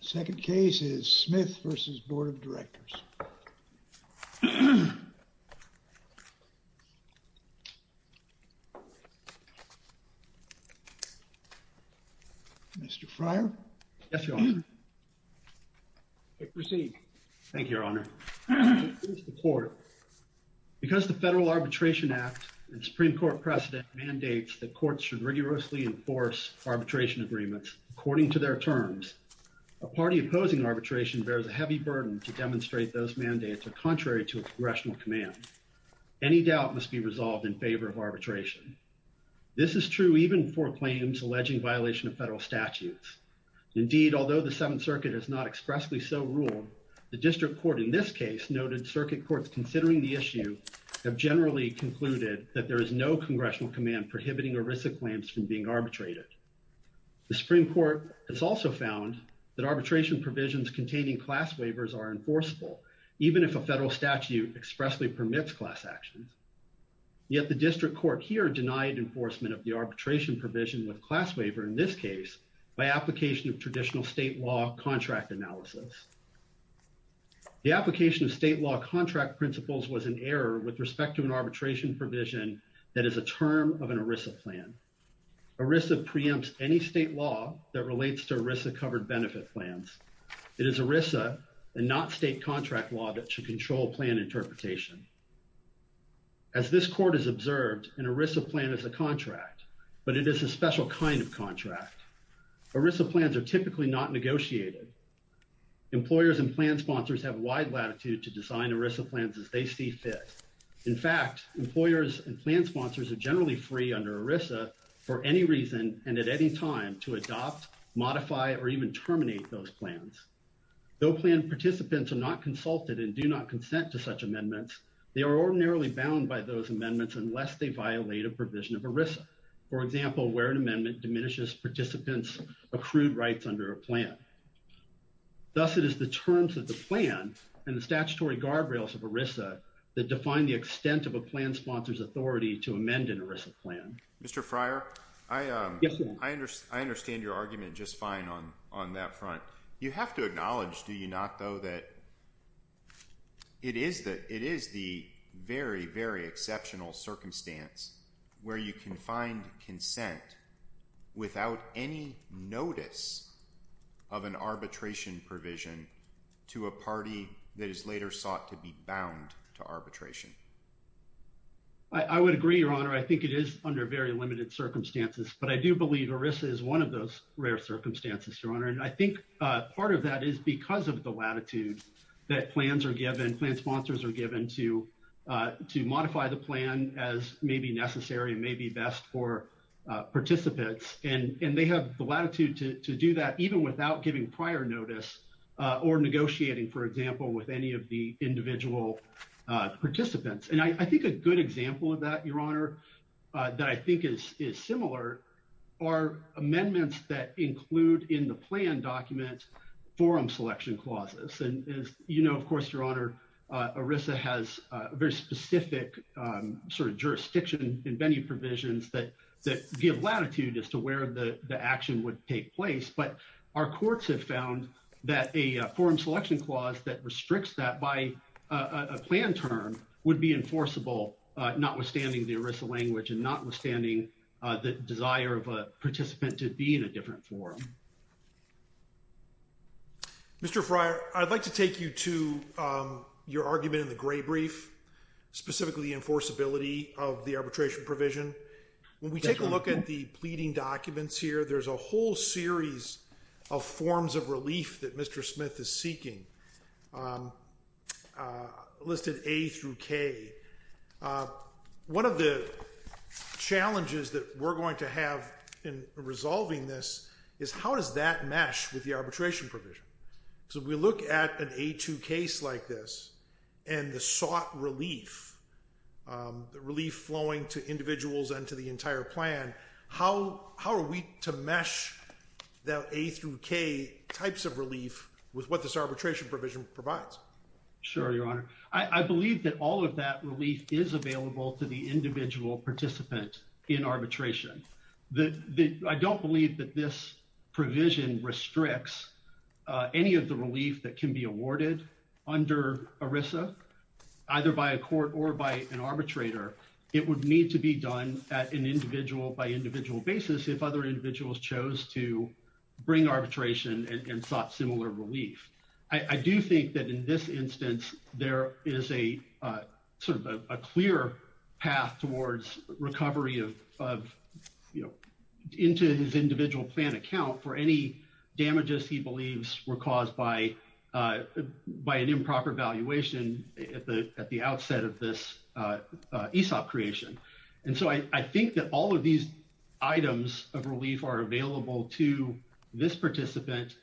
The second case is Smith v. Board of Directors Mr. Fryer Yes, Your Honor. Proceed. Thank you, Your Honor. Here's the court. Because the Federal Arbitration Act and Supreme Court precedent mandates that courts should rigorously enforce arbitration agreements according to their terms, a party opposing arbitration bears a heavy burden to demonstrate those mandates are contrary to a congressional command. Any doubt must be resolved in favor of arbitration. This is true even for claims alleging violation of federal statutes. Indeed, although the Seventh Circuit has not expressly so ruled, the district court in this case noted circuit courts considering the issue have generally concluded that there is no congressional command prohibiting a risk of claims from being arbitrated. The Supreme Court has also found that arbitration provisions containing class waivers are enforceable, even if a federal statute expressly permits class actions. Yet the district court here denied enforcement of the arbitration provision with class waiver in this case by application of traditional state law contract analysis. The application of state law contract principles was an error with respect to an arbitration provision that is a term of an ERISA plan. ERISA preempts any state law that relates to ERISA covered benefit plans. It is ERISA and not state contract law that should control plan interpretation. As this court has observed, an ERISA plan is a contract, but it is a special kind of contract. ERISA plans are typically not negotiated. Employers and plan sponsors have wide latitude to design ERISA plans as they see fit. In fact, employers and plan sponsors are generally free under ERISA for any reason and at any time to adopt, modify, or even terminate those plans. Though plan participants are not consulted and do not consent to such amendments, they are ordinarily bound by those amendments unless they violate a provision of ERISA. For example, where an amendment diminishes participants' accrued rights under a plan. Thus, it is the terms of the plan and the statutory guardrails of ERISA that define the extent of a plan sponsor's authority to amend an ERISA plan. Mr. Fryer, I understand your argument just fine on that front. You have to acknowledge, do you not, though, that it is the very, very exceptional circumstance where you can find consent without any notice of an arbitration provision to a party that is later sought to be bound to arbitration. I would agree, Your Honor. I think it is under very limited circumstances, but I do believe ERISA is one of those rare circumstances, Your Honor. And I think part of that is because of the latitude that plans are given, plan sponsors are given to modify the plan as may be necessary and may be best for participants. And they have the latitude to do that even without giving prior notice or negotiating, for example, with any of the individual participants. And I think a good example of that, Your Honor, that I think is similar are amendments that include in the plan document forum selection clauses. And as you know, of course, Your Honor, ERISA has a very specific sort of jurisdiction in many provisions that give latitude as to where the action would take place. But our courts have found that a forum selection clause that restricts that by a plan term would be enforceable, notwithstanding the ERISA language and notwithstanding the desire of a participant to be in a different forum. Thank you. Mr. Fryer, I'd like to take you to your argument in the gray brief, specifically enforceability of the arbitration provision. When we take a look at the pleading documents here, there's a whole series of forms of relief that Mr. Smith is seeking listed A through K. One of the challenges that we're going to have in resolving this is how does that mesh with the arbitration provision? So we look at an A2 case like this and the sought relief, the relief flowing to individuals and to the entire plan. How are we to mesh that A through K types of relief with what this arbitration provision provides? Sure, Your Honor. I believe that all of that relief is available to the individual participant in arbitration. I don't believe that this provision restricts any of the relief that can be awarded under ERISA, either by a court or by an arbitrator. It would need to be done at an individual by individual basis if other individuals chose to bring arbitration and sought similar relief. I do think that in this instance, there is a sort of a clear path towards recovery of, you know, into his individual plan account for any damages he believes were caused by an improper valuation at the outset of this ESOP creation. And so I think that all of these items of relief are available to this participant.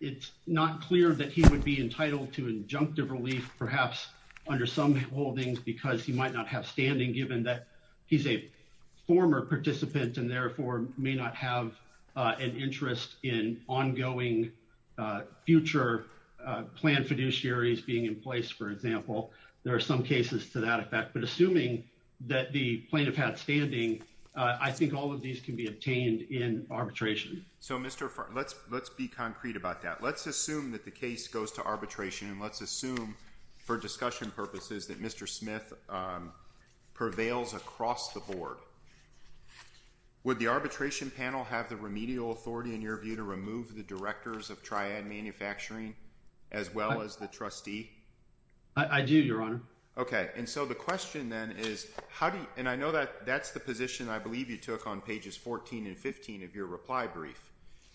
It's not clear that he would be entitled to injunctive relief, perhaps under some holdings, because he might not have standing given that he's a former participant and therefore may not have an interest in ongoing future plan fiduciaries being in place. For example, there are some cases to that effect. But assuming that the plaintiff had standing, I think all of these can be obtained in arbitration. So, Mr. Farr, let's let's be concrete about that. Let's assume that the case goes to arbitration. Let's assume for discussion purposes that Mr. Smith prevails across the board. Would the arbitration panel have the remedial authority in your view to remove the directors of Triad Manufacturing as well as the trustee? I do, Your Honor. Okay. And so the question then is how do you and I know that that's the position I believe you took on pages 14 and 15 of your reply brief.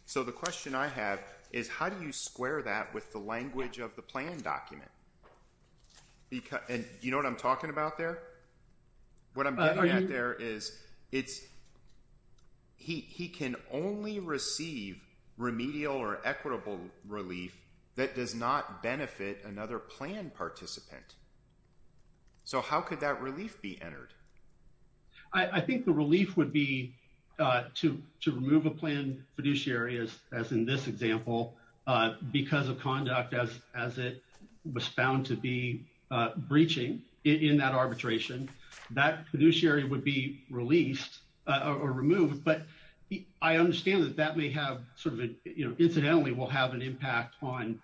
So the question I have is how do you square that with the language of the plan document? And you know what I'm talking about there? What I'm getting at there is it's. He can only receive remedial or equitable relief that does not benefit another plan participant. So how could that relief be entered? I think the relief would be to to remove a plan fiduciary areas, as in this example, because of conduct as as it was found to be breaching in that arbitration, that fiduciary would be released or removed. But I understand that that may have sort of incidentally will have an impact on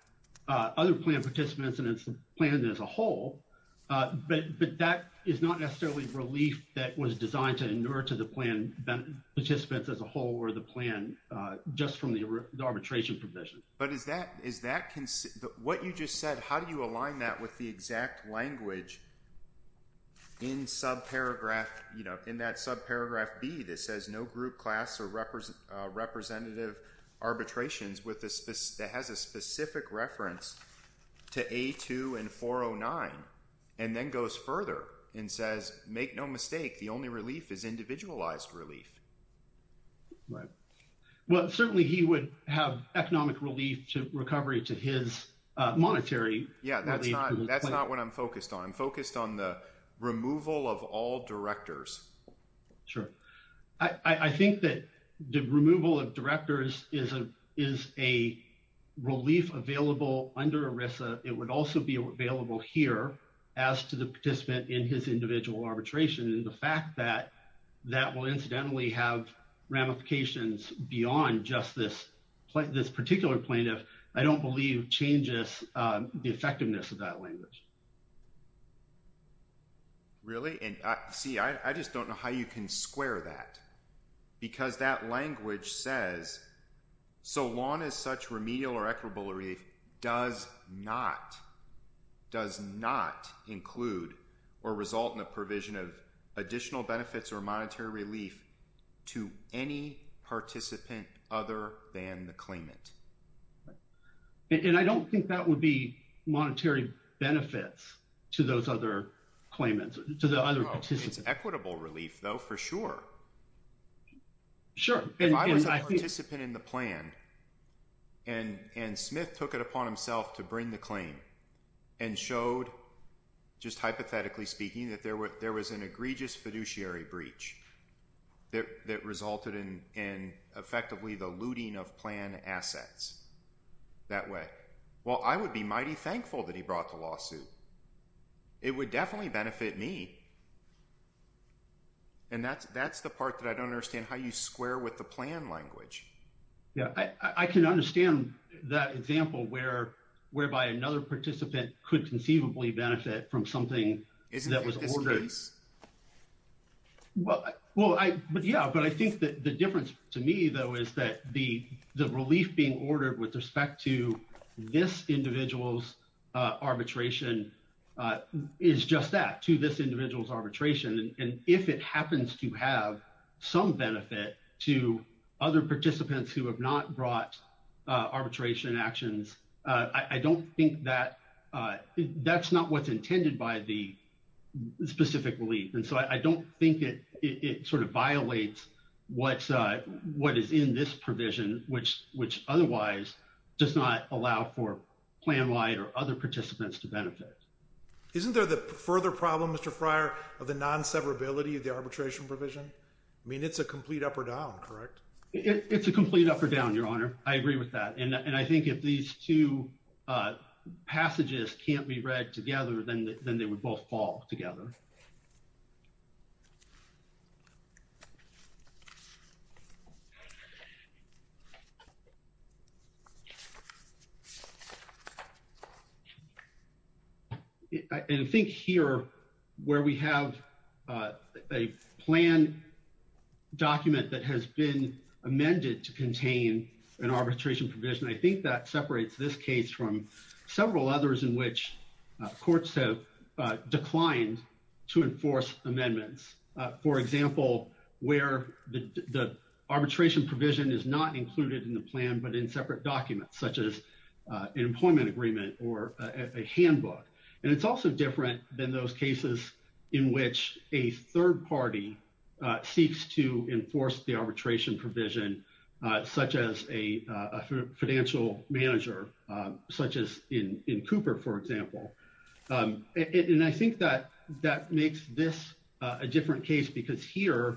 other plan participants and it's planned as a whole. But that is not necessarily relief that was designed to endure to the plan participants as a whole or the plan just from the arbitration provision. But is that is that what you just said? How do you align that with the exact language? In sub paragraph, you know, in that sub paragraph B, this says no group class or represent representative arbitrations with this that has a specific reference to A2 and 409 and then goes further and says, make no mistake. The only relief is individualized relief. Right. Well, certainly he would have economic relief to recovery to his monetary. Yeah, that's not that's not what I'm focused on. I'm focused on the removal of all directors. Sure. I think that the removal of directors is a is a relief available under Arisa. It would also be available here as to the participant in his individual arbitration. And the fact that that will incidentally have ramifications beyond just this this particular plaintiff, I don't believe changes the effectiveness of that language. Really, and see, I just don't know how you can square that because that language says so long as such remedial or equitable relief does not does not include or result in a provision of additional benefits or monetary relief to any participant other than the claimant. And I don't think that would be monetary benefits to those other claimants to the other participants equitable relief, though, for sure. Sure, if I was a participant in the plan and and Smith took it upon himself to bring the claim and showed just hypothetically speaking that there were there was an egregious fiduciary breach that resulted in and effectively the looting of plan assets that way. Well, I would be mighty thankful that he brought the lawsuit. It would definitely benefit me. And that's that's the part that I don't understand how you square with the plan language. Yeah, I can understand that example where whereby another participant could conceivably benefit from something. Well, well, I, but yeah, but I think that the difference to me, though, is that the, the relief being ordered with respect to this individual's arbitration is just that to this individual's arbitration and if it happens to have some benefit to other participants who have not brought arbitration actions. I don't think that that's not what's intended by the specific relief. And so I don't think it, it sort of violates what's what is in this provision, which, which otherwise does not allow for plan wide or other participants to benefit. Isn't there the further problem Mr prior of the non severability of the arbitration provision. I mean, it's a complete up or down. Correct. It's a complete up or down your honor. I agree with that. And I think if these two passages can't be read together, then, then they would both fall together. I think here, where we have a plan document that has been amended to contain an arbitration provision. I think that separates this case from several others in which courts have declined to enforce amendments, for example, where the arbitration provision is not included in the plan, but in separate documents such as employment agreement or a handbook. And it's also different than those cases in which a third party seeks to enforce the arbitration provision, such as a financial manager, such as in Cooper, for example. And I think that that makes this a different case because here,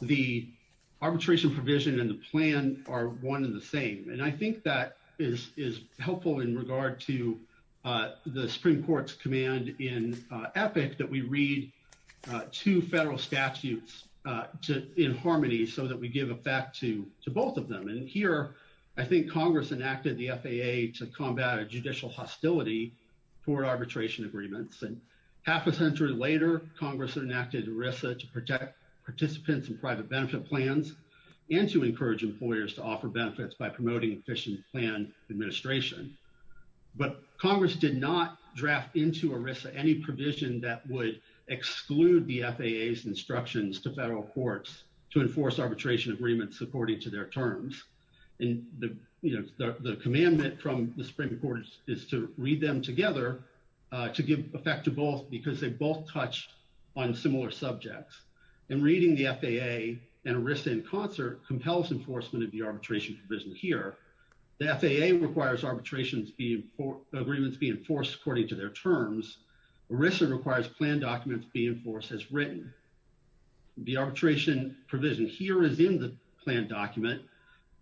the arbitration provision and the plan are one in the same. And I think that is, is helpful in regard to the Supreme Court's command in epic that we read to federal statutes to in harmony, so that we give it back to to both of them. And here, I think Congress enacted the FAA to combat judicial hostility for arbitration agreements. And half a century later, Congress enacted ERISA to protect participants and private benefit plans and to encourage employers to offer benefits by promoting efficient plan administration. But Congress did not draft into ERISA any provision that would exclude the FAA's instructions to federal courts to enforce arbitration agreements according to their terms. And the, you know, the commandment from the Supreme Court is to read them together to give effect to both because they both touched on similar subjects. And reading the FAA and ERISA in concert compels enforcement of the arbitration provision here. The FAA requires arbitration agreements be enforced according to their terms. ERISA requires plan documents be enforced as written. The arbitration provision here is in the plan document.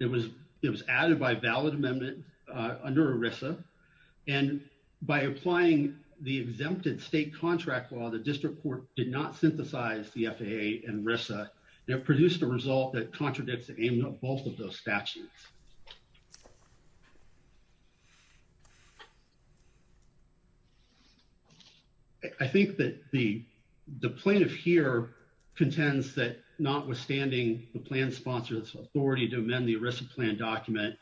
It was, it was added by valid amendment under ERISA. And by applying the exempted state contract law, the district court did not synthesize the FAA and ERISA that produced a result that contradicts both of those statutes. I think that the, the plaintiff here contends that notwithstanding the plan sponsor's authority to amend the ERISA plan document,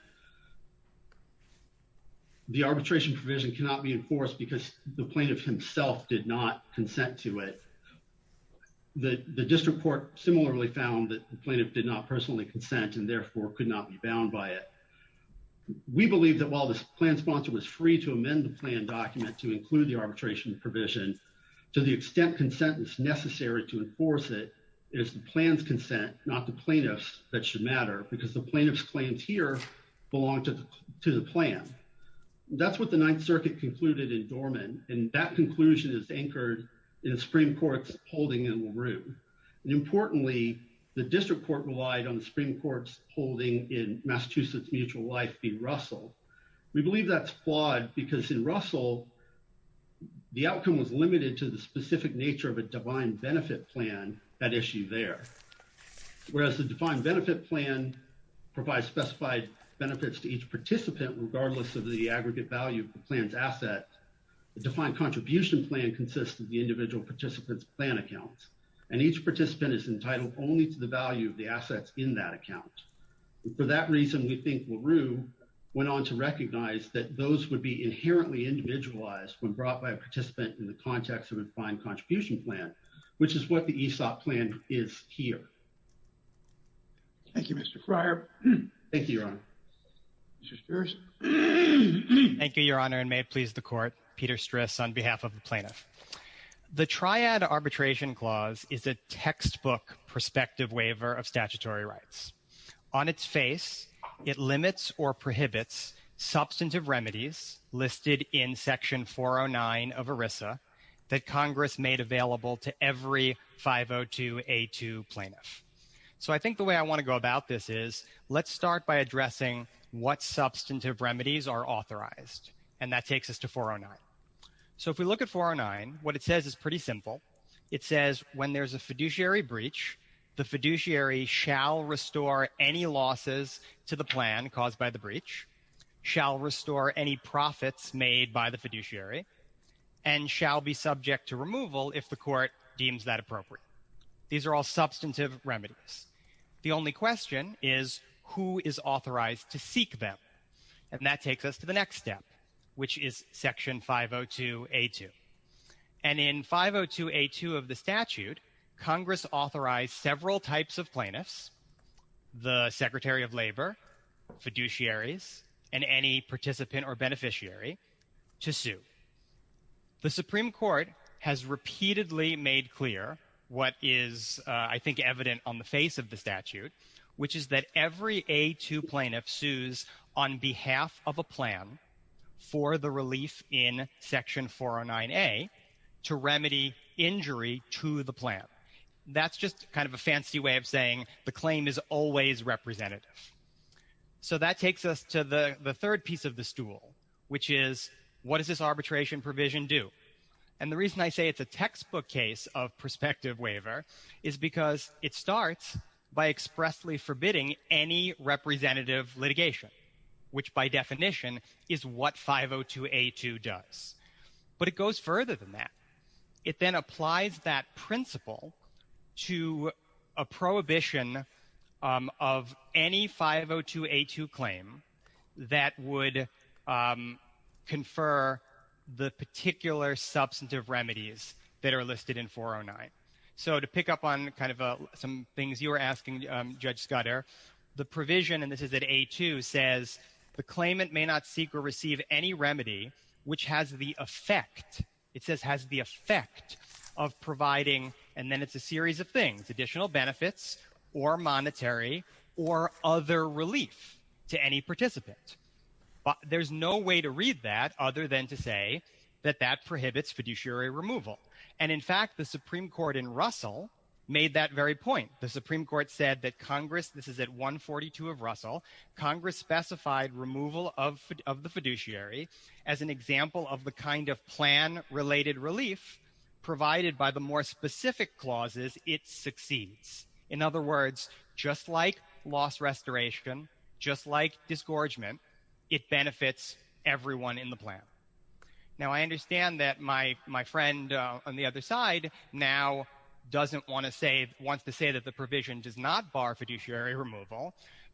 the arbitration provision cannot be enforced because the plaintiff himself did not consent to it. The district court similarly found that the plaintiff did not personally consent and therefore could not be bound by it. We believe that while this plan sponsor was free to amend the plan document to include the arbitration provision, to the extent consent is necessary to enforce it is the plan's consent, not the plaintiff's, that should matter because the plaintiff's claims here belong to the plan. That's what the Ninth Circuit concluded in Dorman, and that conclusion is anchored in the Supreme Court's holding in LaRue. And importantly, the district court relied on the Supreme Court's holding in Massachusetts Mutual Life v. Russell. We believe that's flawed because in Russell, the outcome was limited to the specific nature of a divine benefit plan, that issue there. Whereas the defined benefit plan provides specified benefits to each participant, regardless of the aggregate value of the plan's asset, the defined contribution plan consists of the individual participants' plan accounts, and each participant is entitled only to the value of the assets in that account. For that reason, we think LaRue went on to recognize that those would be inherently individualized when brought by a participant in the context of a defined contribution plan, which is what the ESOP plan is here. Thank you, Mr. Fryer. Thank you, Your Honor. Mr. Stris. Thank you, Your Honor, and may it please the court, Peter Stris on behalf of the plaintiff. The Triad Arbitration Clause is a textbook prospective waiver of statutory rights. On its face, it limits or prohibits substantive remedies listed in Section 409 of ERISA that Congress made available to every 502A2 plaintiff. So I think the way I want to go about this is let's start by addressing what substantive remedies are authorized, and that takes us to 409. So if we look at 409, what it says is pretty simple. It says when there's a fiduciary breach, the fiduciary shall restore any losses to the plan caused by the breach, shall restore any profits made by the fiduciary, and shall be subject to removal if the court deems that appropriate. These are all substantive remedies. The only question is who is authorized to seek them, and that takes us to the next step, which is Section 502A2. And in 502A2 of the statute, Congress authorized several types of plaintiffs, the Secretary of Labor, fiduciaries, and any participant or beneficiary, to sue. The Supreme Court has repeatedly made clear what is, I think, evident on the face of the statute, which is that every A2 plaintiff sues on behalf of a plan for the relief in Section 409A to remedy injury to the plan. That's just kind of a fancy way of saying the claim is always representative. So that takes us to the third piece of the stool, which is what does this arbitration provision do? And the reason I say it's a textbook case of prospective waiver is because it starts by expressly forbidding any representative litigation, which by definition is what 502A2 does. But it goes further than that. It then applies that principle to a prohibition of any 502A2 claim that would confer the particular substantive remedies that are listed in 409. So to pick up on kind of some things you were asking, Judge Scudder, the provision, and this is at A2, says, the claimant may not seek or receive any remedy which has the effect, it says has the effect of providing, and then it's a series of things, additional benefits or monetary or other relief to any participant. There's no way to read that other than to say that that prohibits fiduciary removal. And in fact, the Supreme Court in Russell made that very point. The Supreme Court said that Congress, this is at 142 of Russell, Congress specified removal of the fiduciary as an example of the kind of plan-related relief provided by the more specific clauses it succeeds. In other words, just like loss restoration, just like disgorgement, it benefits everyone in the plan. Now I understand that my friend on the other side now doesn't want to say, wants to say that the provision does not bar fiduciary removal,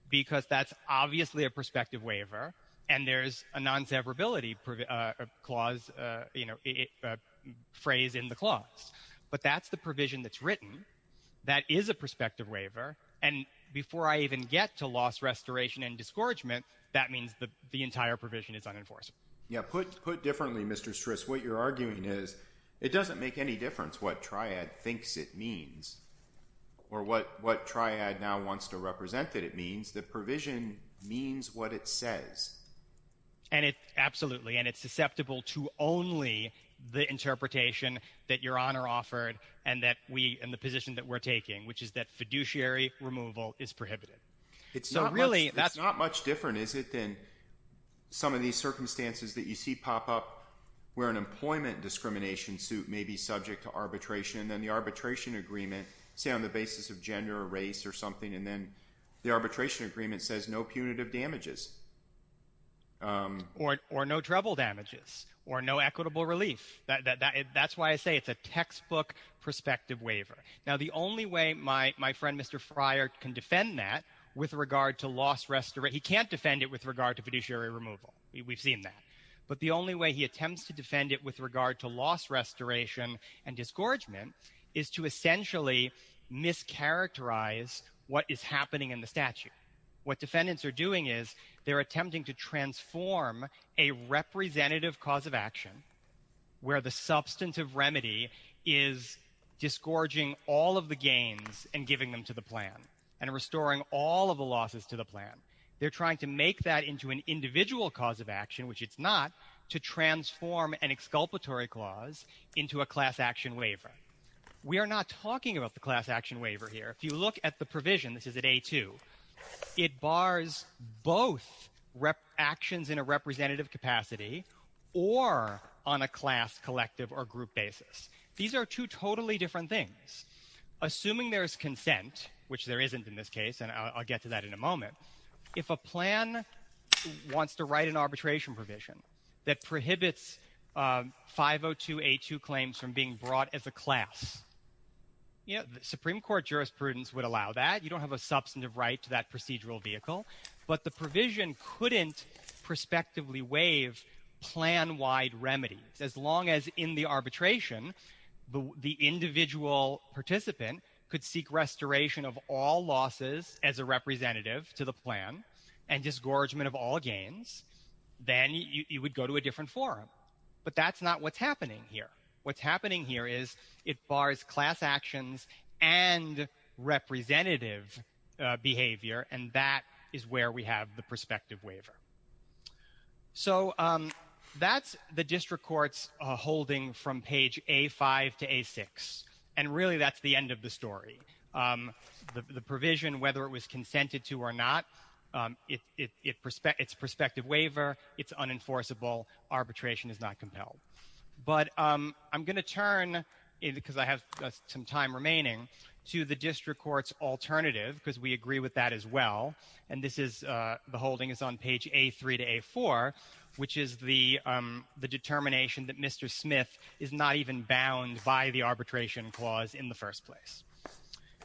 because that's obviously a prospective waiver, and there's a non-severability clause, you know, phrase in the clause. But that's the provision that's written, that is a prospective waiver, and before I even get to loss restoration and disgorgement, that means the entire provision is unenforced. But put differently, Mr. Stris, what you're arguing is, it doesn't make any difference what triad thinks it means, or what triad now wants to represent that it means, the provision means what it says. And it, absolutely, and it's susceptible to only the interpretation that Your Honor offered, and that we, and the position that we're taking, which is that fiduciary removal is prohibited. It's not much different, is it, than some of these circumstances that you see pop up, where an employment discrimination suit may be subject to arbitration, and then the arbitration agreement, say on the basis of gender or race or something, and then the arbitration agreement says no punitive damages. Or no treble damages, or no equitable relief. That's why I say it's a textbook prospective waiver. Now the only way my friend Mr. Fryer can defend that, with regard to loss restoration, he can't defend it with regard to fiduciary removal. We've seen that. But the only way he attempts to defend it with regard to loss restoration and disgorgement, is to essentially mischaracterize what is happening in the statute. What defendants are doing is, they're attempting to transform a representative cause of action, where the substantive remedy is disgorging all of the gains and giving them to the plan, and restoring all of the losses to the plan. They're trying to make that into an individual cause of action, which it's not, to transform an exculpatory clause into a class action waiver. We are not talking about the class action waiver here. If you look at the provision, this is at A2, it bars both actions in a representative capacity, or on a class, collective, or group basis. These are two totally different things. Assuming there is consent, which there isn't in this case, and I'll get to that in a moment, if a plan wants to write an arbitration provision, that prohibits 502A2 claims from being brought as a class, the Supreme Court jurisprudence would allow that. You don't have a substantive right to that procedural vehicle. But the provision couldn't prospectively waive plan-wide remedies. As long as, in the arbitration, the individual participant could seek restoration of all losses as a representative to the plan, and disgorgement of all gains, then you would go to a different forum. But that's not what's happening here. What's happening here is, it bars class actions and representative behavior, and that is where we have the prospective waiver. So, that's the District Court's holding from page A5 to A6. And really, that's the end of the story. The provision, whether it was consented to or not, it's a prospective waiver, it's unenforceable, arbitration is not compelled. But I'm going to turn, because I have some time remaining, to the District Court's alternative, because we agree with that as well. And this is, the holding is on page A3 to A4, which is the determination that Mr. Smith is not even bound by the arbitration clause in the first place.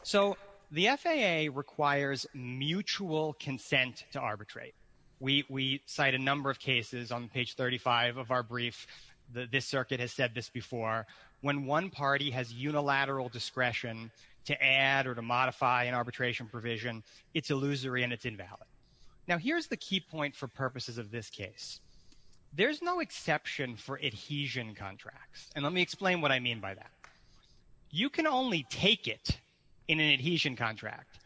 So, the FAA requires mutual consent to arbitrate. We cite a number of cases on page 35 of our brief. This circuit has said this before. When one party has unilateral discretion to add or to modify an arbitration provision, it's illusory and it's invalid. Now, here's the key point for purposes of this case. There's no exception for adhesion contracts. And let me explain what I mean by that. You can only take it in an adhesion contract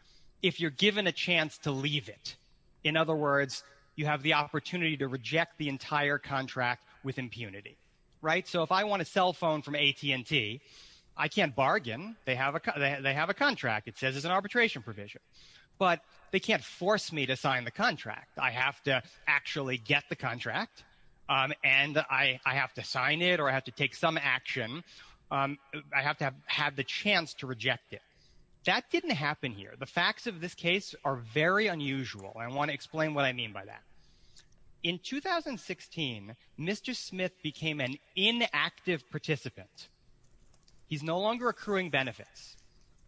if you're given a chance to leave it. In other words, you have the opportunity to reject the entire contract with impunity. Right? So, if I want a cell phone from AT&T, I can't bargain. They have a contract. It says it's an arbitration provision. But they can't force me to sign the contract. I have to actually get the contract, and I have to sign it, or I have to take some action. I have to have the chance to reject it. That didn't happen here. The facts of this case are very unusual, and I want to explain what I mean by that. In 2016, Mr. Smith became an inactive participant. He's no longer accruing benefits.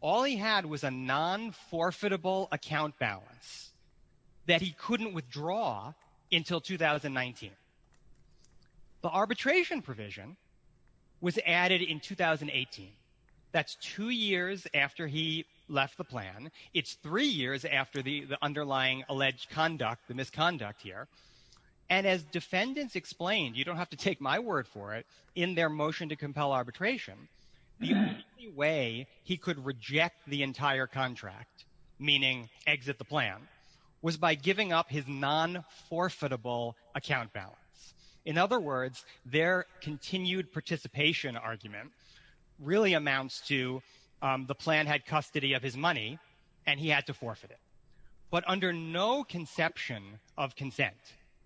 All he had was a non-forfeitable account balance that he couldn't withdraw until 2019. The arbitration provision was added in 2018. That's two years after he left the plan. It's three years after the underlying alleged conduct, the misconduct here. And as defendants explained, you don't have to take my word for it, in their motion to compel arbitration, the only way he could reject the entire contract, meaning exit the plan, was by giving up his non-forfeitable account balance. In other words, their continued participation argument really amounts to the plan had custody of his money, and he had to forfeit it. But under no conception of consent,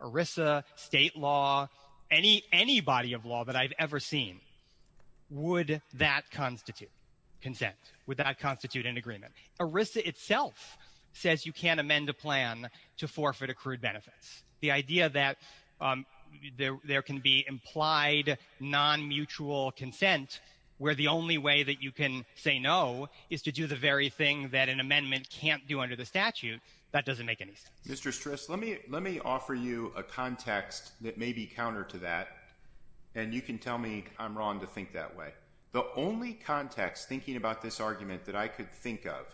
ERISA, state law, any body of law that I've ever seen, would that constitute consent? Would that constitute an agreement? ERISA itself says you can't amend a plan to forfeit accrued benefits. The idea that there can be implied non-mutual consent, where the only way that you can say no is to do the very thing that an amendment can't do under the statute, that doesn't make any sense. Mr. Stris, let me offer you a context that may be counter to that, and you can tell me I'm wrong to think that way. The only context, thinking about this argument, that I could think of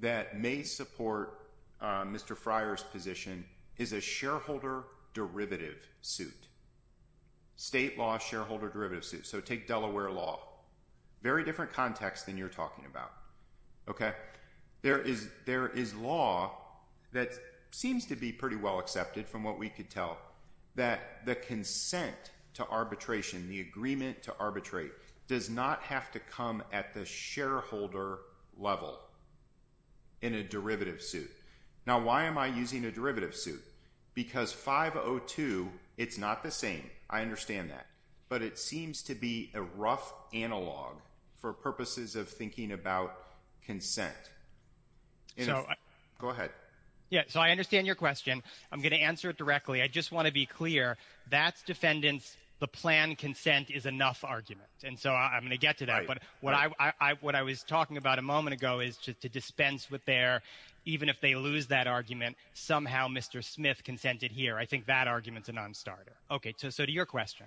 that may support Mr. Fryer's position is a shareholder derivative suit. State law shareholder derivative suit. Take Delaware law. Very different context than you're talking about. There is law that seems to be pretty well accepted from what we could tell, that the consent to arbitration, the agreement to arbitrate, does not have to come at the shareholder level in a derivative suit. Now why am I using a derivative suit? Because 502, it's not the same. I understand that. It's a rough analog for purposes of thinking about consent. Go ahead. Yeah, so I understand your question. I'm going to answer it directly. I just want to be clear, that's defendants, the plan consent is enough argument. And so I'm going to get to that. But what I was talking about a moment ago is to dispense with their, even if they lose that argument, somehow Mr. Smith consented here. I think that argument's a non-starter. Okay, so to your question.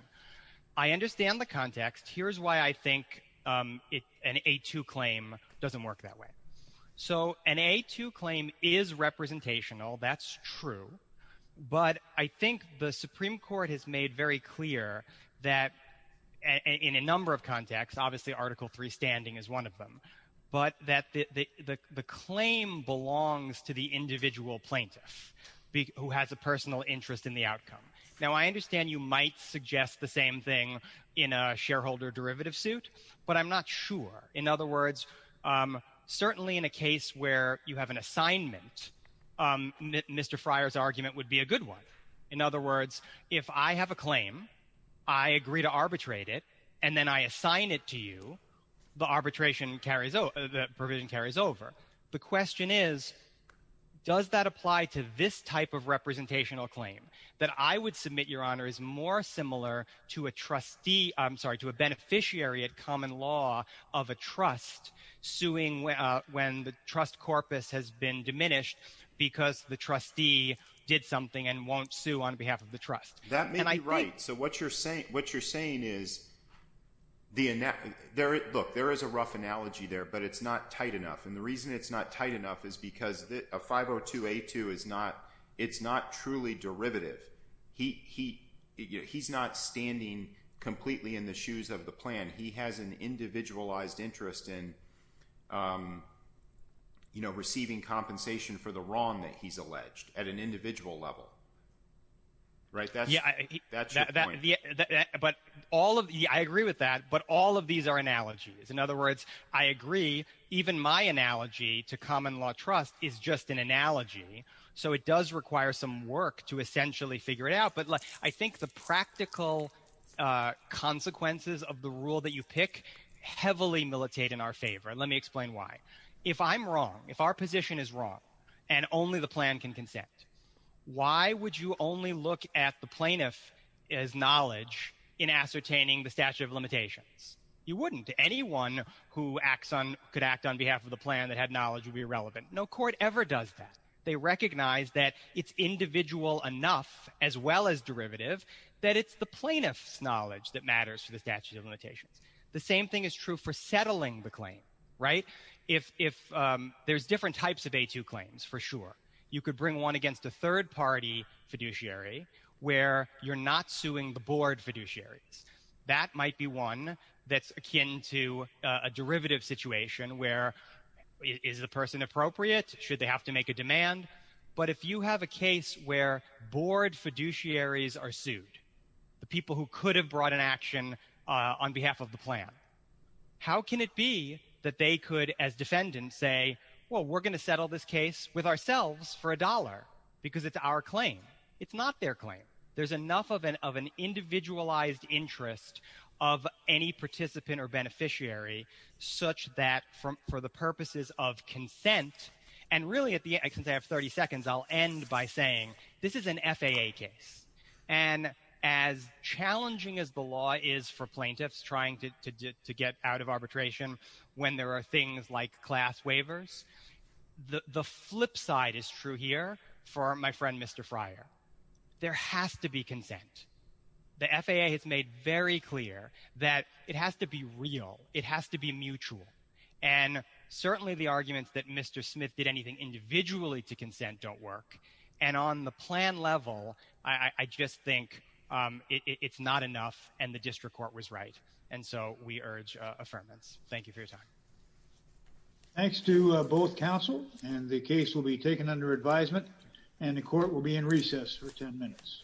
I understand the context. Here's why I think an 8-2 claim doesn't work that way. So an 8-2 claim is representational. That's true. But I think the Supreme Court has made very clear that in a number of contexts, obviously Article III standing is one of them, but that the claim belongs to the individual plaintiff who has a personal interest in the outcome. Now I understand you might suggest the same thing in a shareholder derivative suit, but I'm not sure. In other words, certainly in a case where you have an assignment, Mr. Fryer's argument would be a good one. In other words, if I have a claim, I agree to arbitrate it, and then I assign it to you, the arbitration carries over, the provision carries over. The question is, does that apply to this type of representational claim? That I would submit, Your Honor, is more similar to a beneficiary at common law of a trust suing when the trust corpus has been diminished because the trustee did something and won't sue on behalf of the trust. That may be right. So what you're saying is, look, there is a rough analogy there, but it's not tight enough. And the reason it's not tight enough is because a 502A2, it's not truly derivative. He's not standing completely in the shoes of the plan. He has an individualized interest in receiving compensation for the wrong that he's alleged at an individual level. That's your point. I agree with that, but all of these are analogies. In other words, I agree, even my analogy to common law trust is just an analogy, so it does require some work to essentially figure it out. But I think the practical consequences of the rule that you pick heavily militate in our favor. Let me explain why. If I'm wrong, if our position is wrong and only the plan can consent, why would you only look at the plaintiff's knowledge in ascertaining the statute of limitations? You wouldn't. Anyone who could act on behalf of the plan that had knowledge would be irrelevant. No court ever does that. They recognize that it's individual enough, as well as derivative, that it's the plaintiff's knowledge that matters for the statute of limitations. The same thing is true for settling the claim, right? There's different types of A2 claims, for sure. You could bring one against a third-party fiduciary where you're not suing the board fiduciaries. That might be one that's akin to a derivative situation where is the person appropriate? Should they have to make a demand? But if you have a case where board fiduciaries are sued, the people who could have brought an action on behalf of the plan, how can it be that they could, as defendants, say, well, we're going to settle this case with ourselves for a dollar because it's our claim. It's not their claim. There's enough of an individualized interest of any participant or beneficiary such that for the purposes of consent, and really, since I have 30 seconds, I'll end by saying this is an FAA case. And as challenging as the law is for plaintiffs trying to get out of arbitration when there are things like class waivers, the flip side is true here for my friend, Mr. Fryer. There has to be consent. The FAA has made very clear that it has to be real. It has to be mutual. And certainly the arguments that Mr. Smith did anything individually to consent don't work. And on the plan level, I just think it's not enough, and the district court was right. And so we urge affirmance. Thank you for your time. Thanks to both counsel, and the case will be taken under advisement, and the court will be in recess for 10 minutes.